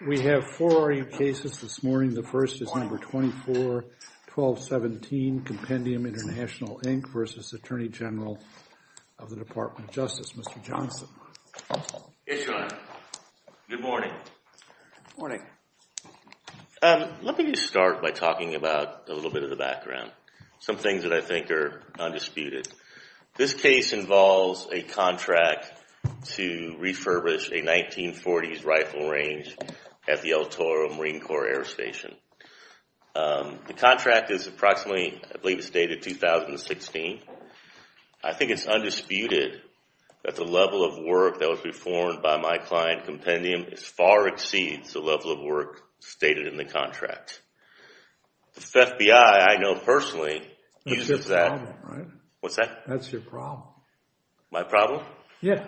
We have four cases this morning. The first is No. 24-1217, Compendium International, Inc. v. Attorney General of the Department of Justice. Mr. Johnson. Yes, Your Honor. Good morning. Good morning. Let me just start by talking about a little bit of the background, some things that I think are undisputed. This case involves a contract to refurbish a 1940s rifle range at the El Toro Marine Corps Air Station. The contract is approximately, I believe it's dated 2016. I think it's undisputed that the level of work that was performed by my client, Compendium, far exceeds the level of work stated in the contract. The FBI, I know personally, uses that. That's your problem, right? What's that? That's your problem. My problem? Yeah,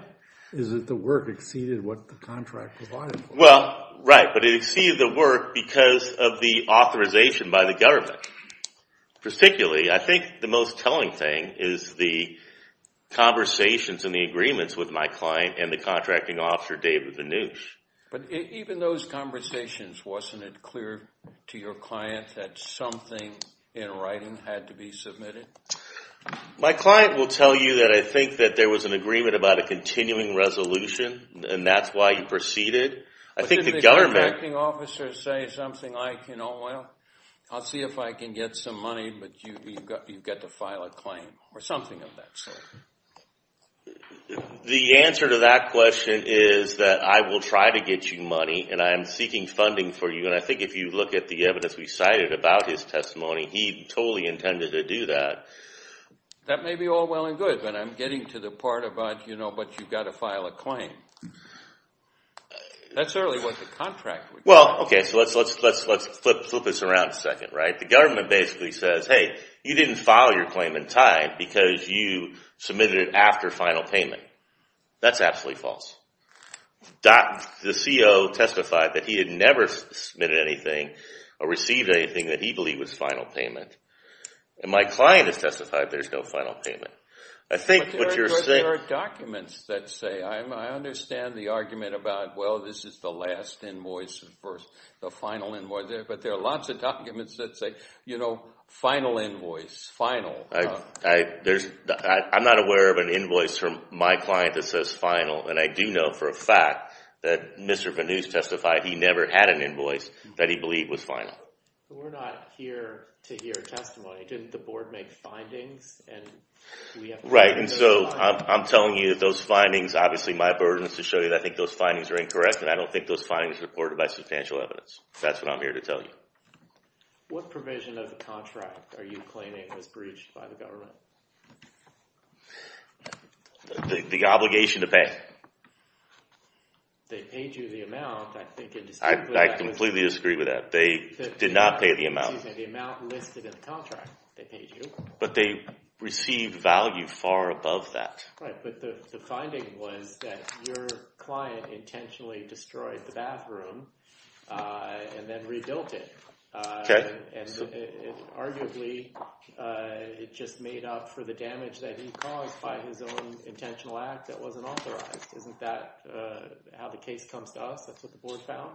is that the work exceeded what the contract provided for. Well, right, but it exceeded the work because of the authorization by the government. Particularly, I think the most telling thing is the conversations and the agreements with my client and the contracting officer, David Vannouch. But even those conversations, wasn't it clear to your client that something in writing had to be submitted? My client will tell you that I think that there was an agreement about a continuing resolution, and that's why you proceeded. But didn't the contracting officer say something like, you know, well, I'll see if I can get some money, but you've got to file a claim, or something of that sort? The answer to that question is that I will try to get you money, and I am seeking funding for you. And I think if you look at the evidence we cited about his testimony, he totally intended to do that. That may be all well and good, but I'm getting to the part about, you know, but you've got to file a claim. That's certainly what the contract would do. Well, okay, so let's flip this around a second, right? The government basically says, hey, you didn't file your claim in time because you submitted it after final payment. That's absolutely false. The CO testified that he had never submitted anything or received anything that he believed was final payment. And my client has testified there's no final payment. I think what you're saying… But there are documents that say, I understand the argument about, well, this is the last invoice, or the final invoice. But there are lots of documents that say, you know, final invoice, final. I'm not aware of an invoice from my client that says final. And I do know for a fact that Mr. Venoose testified he never had an invoice that he believed was final. We're not here to hear testimony. Didn't the board make findings? Right, and so I'm telling you that those findings, obviously my burden is to show you that I think those findings are incorrect. And I don't think those findings are supported by substantial evidence. That's what I'm here to tell you. What provision of the contract are you claiming was breached by the government? The obligation to pay. They paid you the amount. I completely disagree with that. They did not pay the amount. The amount listed in the contract they paid you. But they received value far above that. Right, but the finding was that your client intentionally destroyed the bathroom and then rebuilt it. And arguably it just made up for the damage that he caused by his own intentional act that wasn't authorized. Isn't that how the case comes to us? That's what the board found?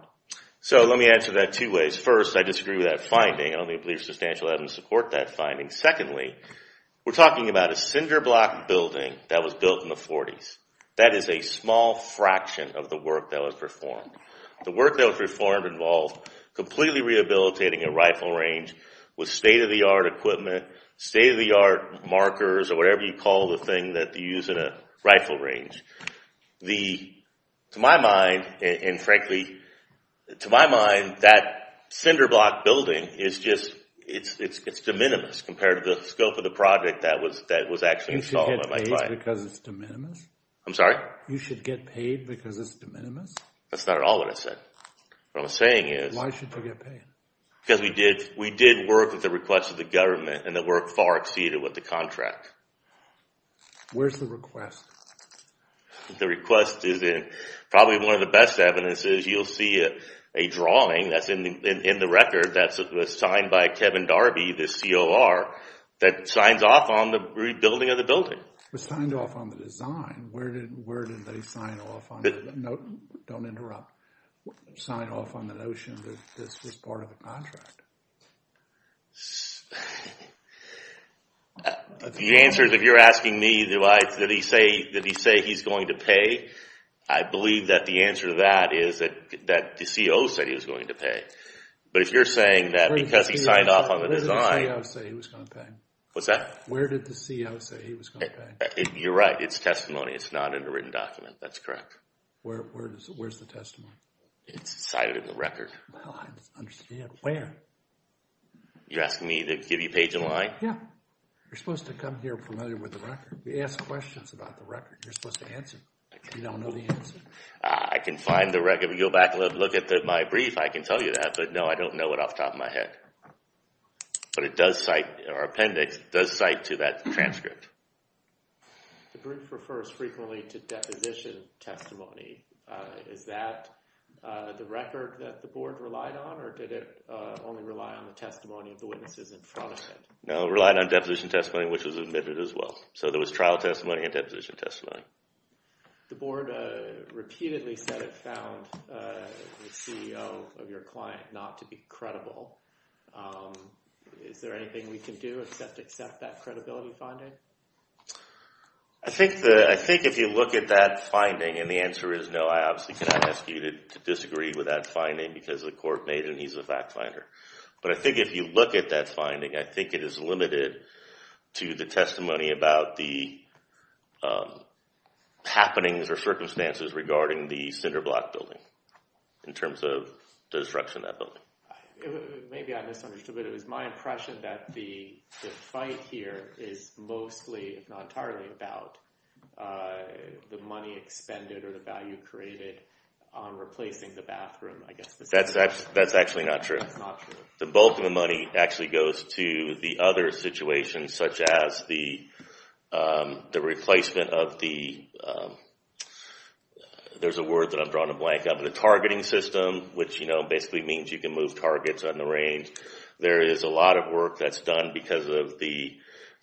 So let me answer that two ways. First, I disagree with that finding. I don't believe substantial evidence to support that finding. Secondly, we're talking about a cinder block building that was built in the 40s. That is a small fraction of the work that was performed. The work that was performed involved completely rehabilitating a rifle range with state-of-the-art equipment, state-of-the-art markers, or whatever you call the thing that you use in a rifle range. To my mind, and frankly, to my mind that cinder block building is just, it's de minimis compared to the scope of the project that was actually installed by my client. You should get paid because it's de minimis? I'm sorry? You should get paid because it's de minimis? That's not at all what I said. What I'm saying is… Why should you get paid? Because we did work with the request of the government and the work far exceeded what the contract. Where's the request? The request is in probably one of the best evidences. You'll see a drawing that's in the record that was signed by Kevin Darby, the COR, that signs off on the rebuilding of the building. It was signed off on the design. Where did they sign off on it? Don't interrupt. Signed off on the notion that this was part of the contract. The answer is if you're asking me that he say he's going to pay, I believe that the answer to that is that the CO said he was going to pay. But if you're saying that because he signed off on the design… Where did the CO say he was going to pay? What's that? Where did the CO say he was going to pay? You're right. It's testimony. It's not in a written document. That's correct. Where's the testimony? It's cited in the record. Well, I don't understand. Where? You're asking me to give you page and line? Yeah. You're supposed to come here familiar with the record. You ask questions about the record. You're supposed to answer. You don't know the answer. I can find the record. If you go back and look at my brief, I can tell you that. But no, I don't know it off the top of my head. But it does cite – our appendix does cite to that transcript. The brief refers frequently to deposition testimony. Is that the record that the board relied on, or did it only rely on the testimony of the witnesses in front of it? No, it relied on deposition testimony, which was admitted as well. So there was trial testimony and deposition testimony. The board repeatedly said it found the CEO of your client not to be credible. Is there anything we can do except accept that credibility finding? I think if you look at that finding, and the answer is no, I obviously cannot ask you to disagree with that finding because the court made it and he's a fact finder. But I think if you look at that finding, I think it is limited to the testimony about the happenings or circumstances regarding the Cinderblock building in terms of the destruction of that building. Maybe I misunderstood, but it was my impression that the fight here is mostly, if not entirely, about the money expended or the value created on replacing the bathroom, I guess. That's actually not true. The bulk of the money actually goes to the other situations, such as the replacement of the – there's a word that I've drawn a blank of, the targeting system, which basically means you can move targets on the range. There is a lot of work that's done because of the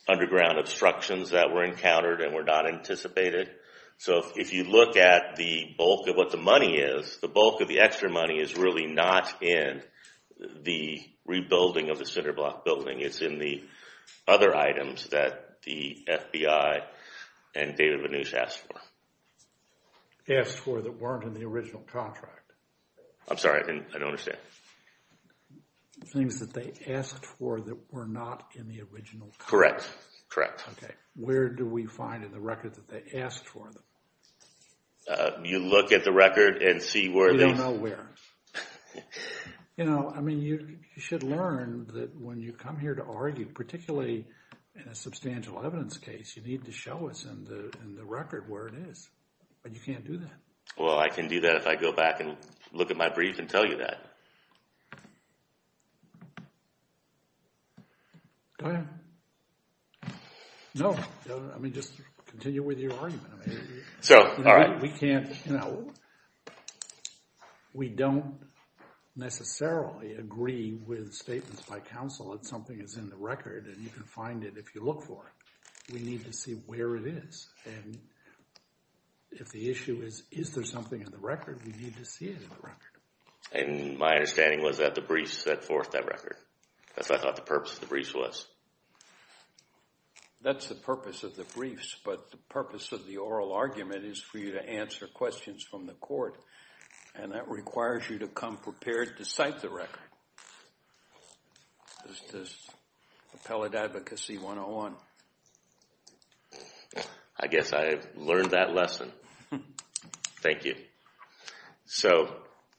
underground obstructions that were encountered and were not anticipated. So if you look at the bulk of what the money is, the bulk of the extra money is really not in the rebuilding of the Cinderblock building. It's in the other items that the FBI and David Vannouse asked for. Asked for that weren't in the original contract. I'm sorry, I don't understand. Things that they asked for that were not in the original contract. Correct, correct. Okay, where do we find in the record that they asked for them? You look at the record and see where they – You don't know where. I mean, you should learn that when you come here to argue, particularly in a substantial evidence case, you need to show us in the record where it is, but you can't do that. Well, I can do that if I go back and look at my brief and tell you that. Go ahead. No, I mean just continue with your argument. We can't – we don't necessarily agree with statements by counsel that something is in the record and you can find it if you look for it. We need to see where it is. And if the issue is is there something in the record, we need to see it in the record. And my understanding was that the briefs set forth that record. That's what I thought the purpose of the briefs was. That's the purpose of the briefs, but the purpose of the oral argument is for you to answer questions from the court, and that requires you to come prepared to cite the record. This is Appellate Advocacy 101. I guess I learned that lesson. Thank you. So,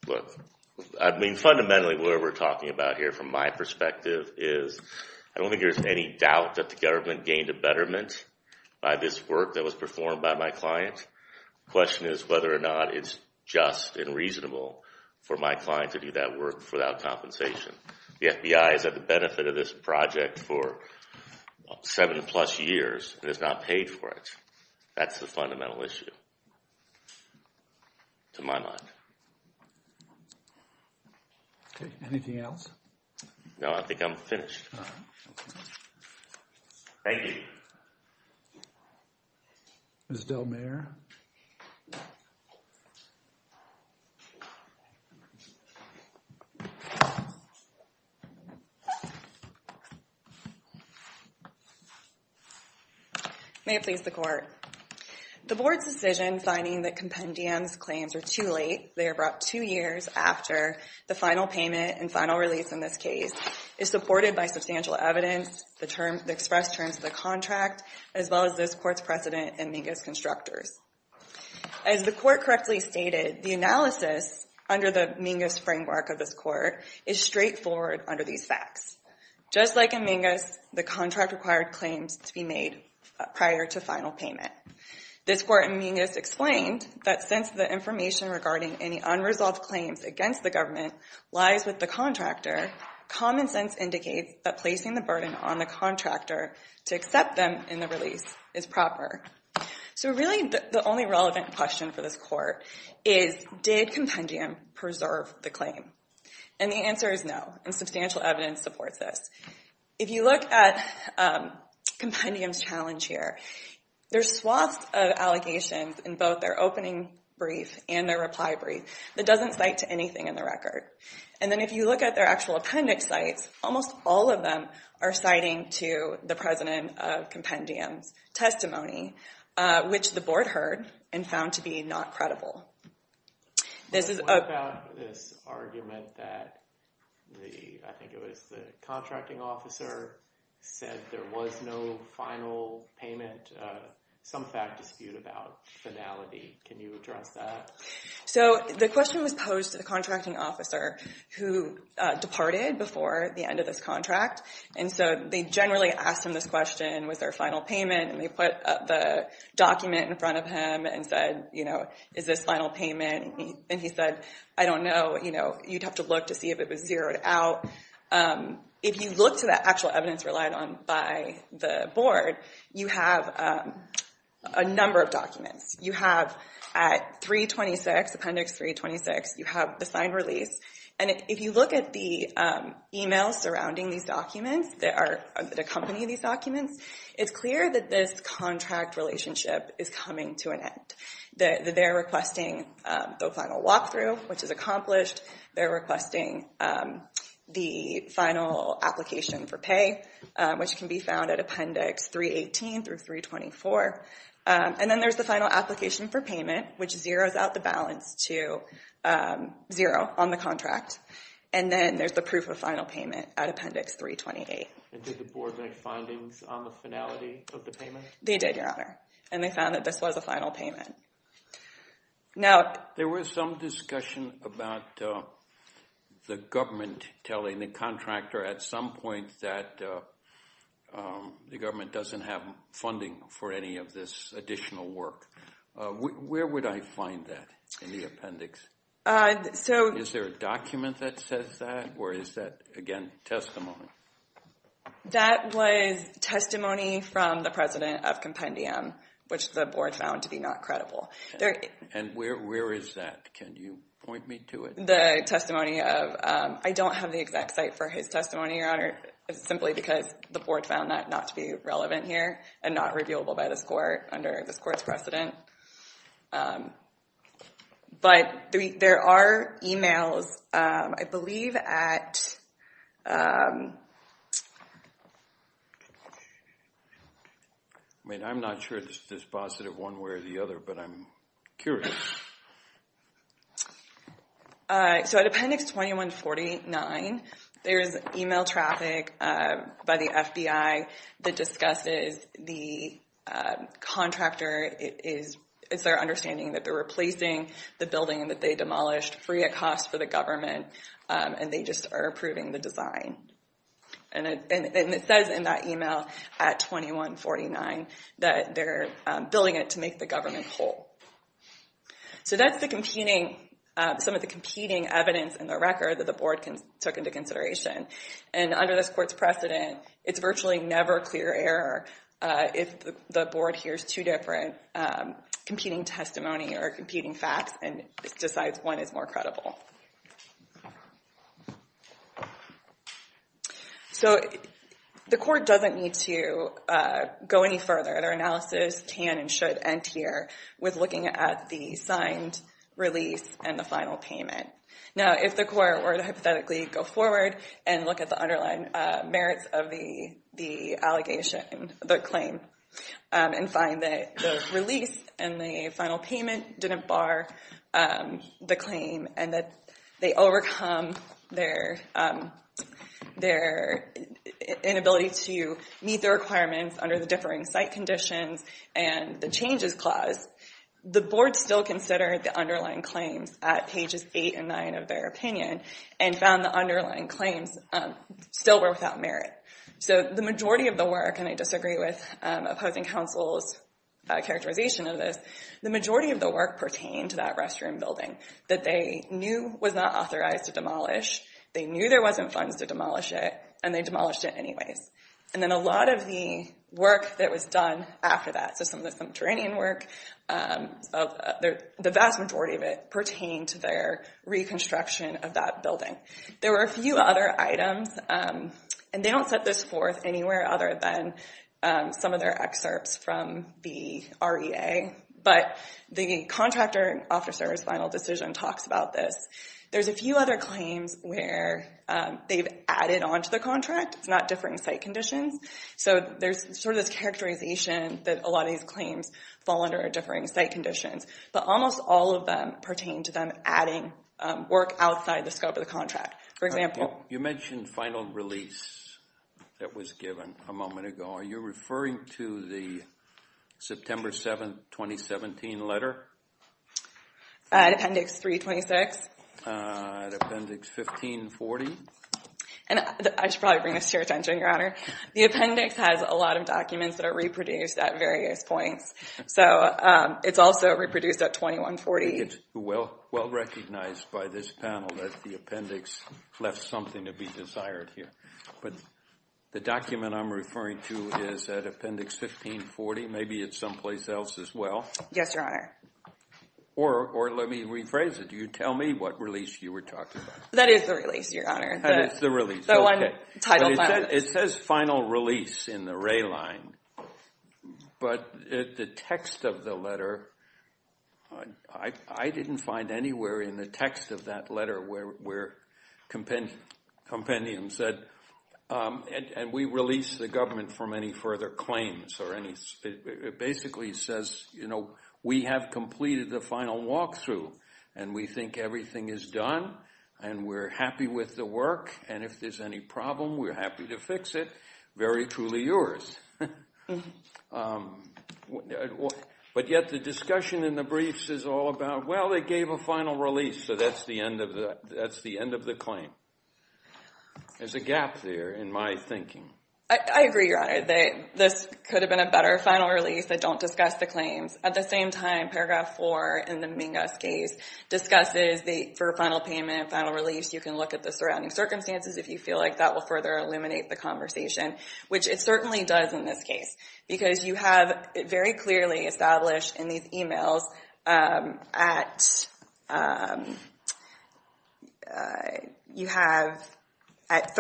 look, I mean fundamentally what we're talking about here from my perspective is I don't think there's any doubt that the government gained a betterment by this work that was performed by my client. The question is whether or not it's just and reasonable for my client to do that work without compensation. The FBI has had the benefit of this project for seven plus years and has not paid for it. That's the fundamental issue to my mind. Anything else? No, I think I'm finished. Thank you. Ms. DelMayer. May it please the Court. The Board's decision finding that Compendium's claims are too late, they are brought two years after the final payment and final release in this case, is supported by substantial evidence, the express terms of the contract, as well as this Court's precedent in Mingus Constructors. As the Court correctly stated, the analysis under the Mingus framework of this Court is straightforward under these facts. Just like in Mingus, the contract required claims to be made prior to final payment. This Court in Mingus explained that since the information regarding any unresolved claims against the government lies with the contractor, common sense indicates that placing the burden on the contractor to accept them in the release is proper. So really the only relevant question for this Court is, did Compendium preserve the claim? And the answer is no, and substantial evidence supports this. If you look at Compendium's challenge here, there's swaths of allegations in both their opening brief and their reply brief that doesn't cite to anything in the record. And then if you look at their actual appendix sites, almost all of them are citing to the president of Compendium's testimony, which the Board heard and found to be not credible. This is a... What about this argument that the, I think it was the contracting officer, said there was no final payment, some fact dispute about finality. Can you address that? So the question was posed to the contracting officer who departed before the end of this contract. And so they generally asked him this question, was there a final payment? And they put the document in front of him and said, you know, is this final payment? And he said, I don't know. You'd have to look to see if it was zeroed out. If you look to the actual evidence relied on by the Board, you have a number of documents. You have at 326, appendix 326, you have the signed release. And if you look at the e-mails surrounding these documents that accompany these documents, it's clear that this contract relationship is coming to an end. They're requesting the final walkthrough, which is accomplished. They're requesting the final application for pay, which can be found at appendix 318 through 324. And then there's the final application for payment, which zeroes out the balance to zero on the contract. And then there's the proof of final payment at appendix 328. And did the Board make findings on the finality of the payment? They did, Your Honor. And they found that this was a final payment. There was some discussion about the government telling the contractor at some point that the government doesn't have funding for any of this additional work. Where would I find that in the appendix? Is there a document that says that, or is that, again, testimony? That was testimony from the President of Compendium, which the Board found to be not credible. And where is that? Can you point me to it? I don't have the exact site for his testimony, Your Honor, simply because the Board found that not to be relevant here and not reviewable by this court under this court's precedent. But there are e-mails, I believe, at ---- I mean, I'm not sure if this is positive one way or the other, but I'm curious. So at appendix 2149, there's e-mail traffic by the FBI that discusses the contractor is their understanding that they're replacing the building that they demolished free of cost for the government, and they just are approving the design. And it says in that e-mail at 2149 that they're building it to make the government whole. So that's some of the competing evidence in the record that the Board took into consideration. And under this court's precedent, it's virtually never clear error if the Board hears two different competing testimony or competing facts and decides one is more credible. So the court doesn't need to go any further. Their analysis can and should end here with looking at the signed release and the final payment. Now, if the court were to hypothetically go forward and look at the underlying merits of the allegation, the claim, and find that the release and the final payment didn't bar the claim and that they overcome their inability to meet their requirements under the differing site conditions and the changes clause, the Board still considered the underlying claims at pages 8 and 9 of their opinion and found the underlying claims still were without merit. So the majority of the work, and I disagree with opposing counsel's characterization of this, the majority of the work pertained to that restroom building that they knew was not authorized to demolish, they knew there wasn't funds to demolish it, and they demolished it anyways. And then a lot of the work that was done after that, so some of the subterranean work, the vast majority of it pertained to their reconstruction of that building. There were a few other items, and they don't set this forth anywhere other than some of their excerpts from the REA, but the contractor officer's final decision talks about this. There's a few other claims where they've added onto the contract, it's not differing site conditions, so there's sort of this characterization that a lot of these claims fall under differing site conditions, but almost all of them pertain to them adding work outside the scope of the contract. For example. You mentioned final release that was given a moment ago. Are you referring to the September 7, 2017 letter? Appendix 326. Appendix 1540. I should probably bring this to your attention, Your Honor. The appendix has a lot of documents that are reproduced at various points, so it's also reproduced at 2140. It's well recognized by this panel that the appendix left something to be desired here, but the document I'm referring to is at appendix 1540. Maybe it's someplace else as well. Yes, Your Honor. Or let me rephrase it. You tell me what release you were talking about. That is the release, Your Honor. That is the release. The one titled final release. The text of the letter, I didn't find anywhere in the text of that letter where compendium said, and we release the government from any further claims. It basically says, you know, we have completed the final walkthrough, and we think everything is done, and we're happy with the work, and if there's any problem, we're happy to fix it. Very truly yours. But yet the discussion in the briefs is all about, well, they gave a final release, so that's the end of the claim. There's a gap there in my thinking. I agree, Your Honor, that this could have been a better final release. I don't discuss the claims. At the same time, Paragraph 4 in the Mingus case discusses that for a final payment, final release, you can look at the surrounding circumstances if you feel like that will further eliminate the conversation, which it certainly does in this case because you have it very clearly established in these e-mails. You have at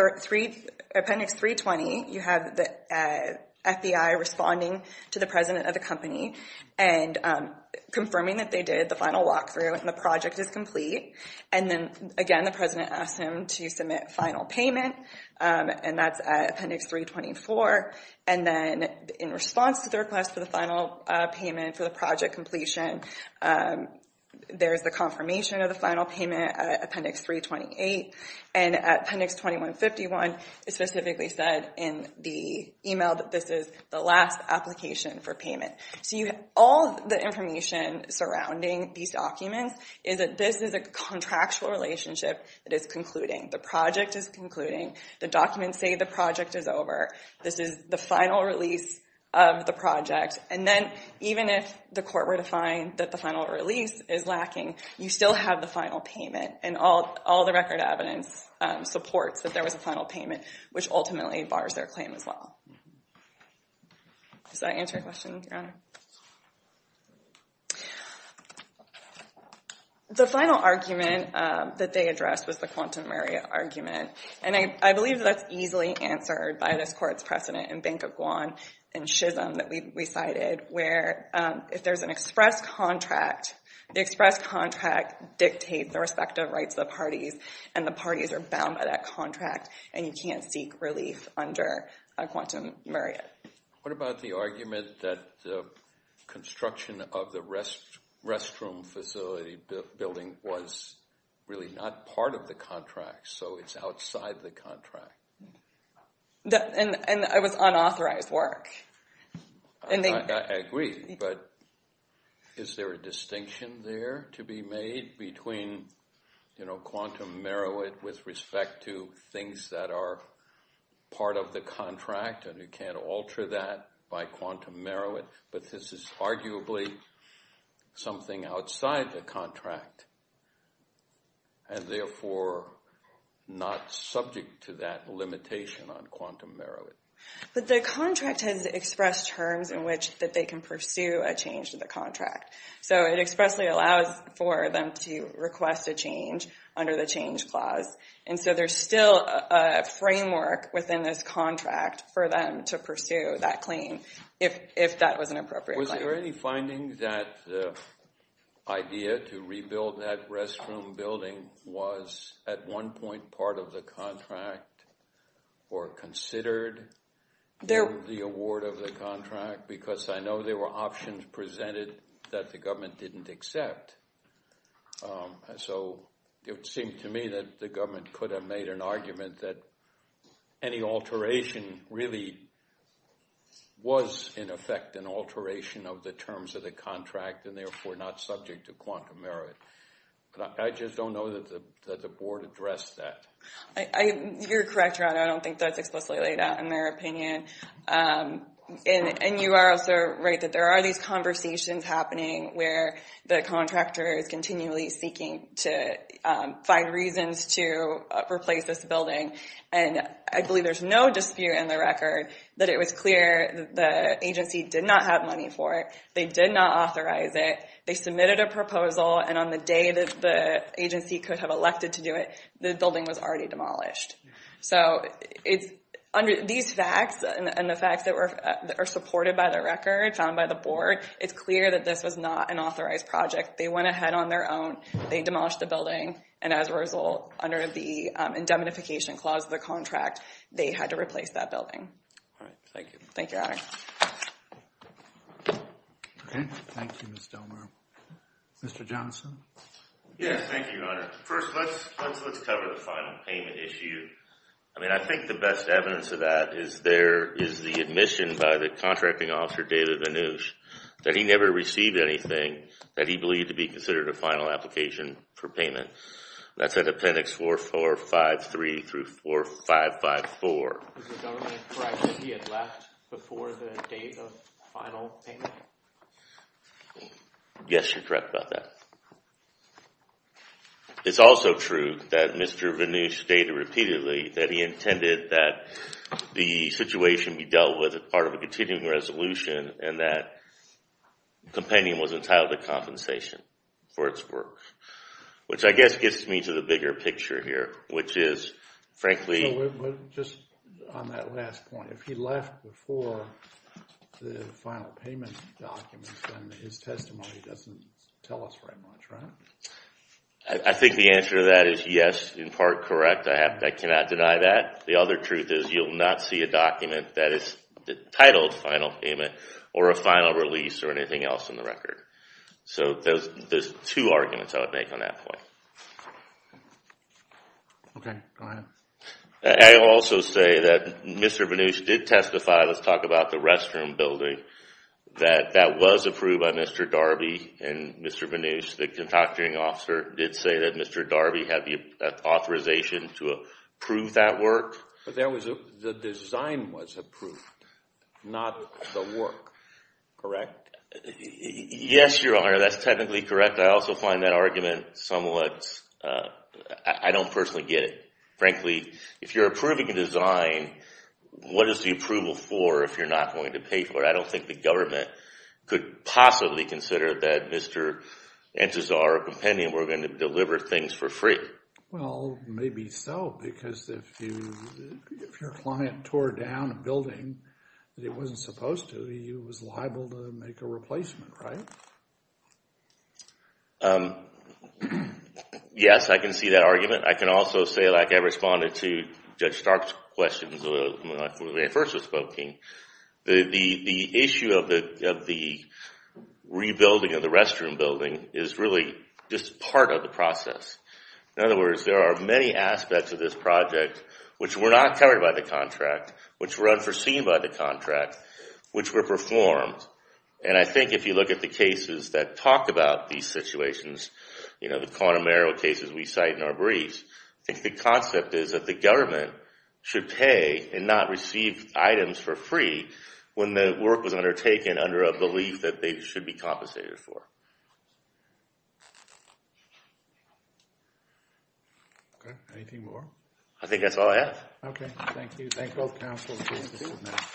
Appendix 320, you have the FBI responding to the president of the company and confirming that they did the final walkthrough and the project is complete, and then, again, the president asks him to submit final payment, and that's at Appendix 324, and then in response to the request for the final payment for the project completion, there's the confirmation of the final payment at Appendix 328, and at Appendix 2151, it's specifically said in the e-mail that this is the last application for payment. So all the information surrounding these documents is that this is a contractual relationship that is concluding. The project is concluding. The documents say the project is over. This is the final release of the project, and then even if the court were to find that the final release is lacking, you still have the final payment, and all the record evidence supports that there was a final payment, which ultimately bars their claim as well. Does that answer your question, Your Honor? The final argument that they addressed was the quantum area argument, and I believe that's easily answered by this court's precedent in Banquo-Guan and Chisholm that we cited, where if there's an express contract, the express contract dictates the respective rights of the parties, and the parties are bound by that contract, and you can't seek relief under a quantum area. What about the argument that the construction of the restroom facility building was really not part of the contract, so it's outside the contract? And it was unauthorized work. I agree, but is there a distinction there to be made between quantum merit with respect to things that are part of the contract, and you can't alter that by quantum merit, but this is arguably something outside the contract, and therefore not subject to that limitation on quantum merit. But the contract has expressed terms in which they can pursue a change to the contract, so it expressly allows for them to request a change under the change clause, and so there's still a framework within this contract for them to pursue that claim if that was an appropriate claim. Was there any finding that the idea to rebuild that restroom building was at one point part of the contract or considered in the award of the contract? Because I know there were options presented that the government didn't accept, so it seemed to me that the government could have made an argument that any alteration really was in effect an alteration of the terms of the contract and therefore not subject to quantum merit. I just don't know that the board addressed that. You're correct, Ron. I don't think that's explicitly laid out in their opinion, and you are also right that there are these conversations happening where the contractor is continually seeking to find reasons to replace this building, and I believe there's no dispute in the record that it was clear that the agency did not have money for it. They did not authorize it. They submitted a proposal, and on the day that the agency could have elected to do it, the building was already demolished. So these facts and the facts that are supported by the record found by the board, it's clear that this was not an authorized project. They went ahead on their own. They demolished the building, and as a result, under the indemnification clause of the contract, they had to replace that building. All right. Thank you. Thank you, Honor. Okay. Thank you, Ms. Delmar. Mr. Johnson? Yes, thank you, Honor. First, let's cover the final payment issue. I mean, I think the best evidence of that is there is the admission by the contracting officer, David Vannouche, that he never received anything that he believed to be considered a final application for payment. That's at Appendix 4453 through 4554. Is the government correct that he had left before the date of final payment? Yes, you're correct about that. It's also true that Mr. Vannouche stated repeatedly that he intended that the situation be dealt with as part of a continuing resolution and that compendium was entitled to compensation for its work, which I guess gets me to the bigger picture here, which is, frankly— Just on that last point, if he left before the final payment documents, then his testimony doesn't tell us very much, right? I think the answer to that is yes, in part correct. I cannot deny that. The other truth is you'll not see a document that is titled final payment or a final release or anything else in the record. So there's two arguments I would make on that point. Okay, go ahead. I will also say that Mr. Vannouche did testify—let's talk about the restroom building— that that was approved by Mr. Darby and Mr. Vannouche. The contracting officer did say that Mr. Darby had the authorization to approve that work. But the design was approved, not the work, correct? Yes, Your Honor, that's technically correct. In fact, I also find that argument somewhat—I don't personally get it. Frankly, if you're approving a design, what is the approval for if you're not going to pay for it? I don't think the government could possibly consider that Mr. Antizar or a compendium were going to deliver things for free. Well, maybe so, because if your client tore down a building that it wasn't supposed to, it was liable to make a replacement, right? Yes, I can see that argument. I can also say, like I responded to Judge Stark's questions when I first was spoken, the issue of the rebuilding of the restroom building is really just part of the process. In other words, there are many aspects of this project which were not covered by the contract, which were unforeseen by the contract, which were performed. And I think if you look at the cases that talk about these situations, the corner marrow cases we cite in our briefs, I think the concept is that the government should pay and not receive items for free when the work was undertaken under a belief that they should be compensated for. Anything more? I think that's all I have. Okay, thank you. Thank both Council and the committee.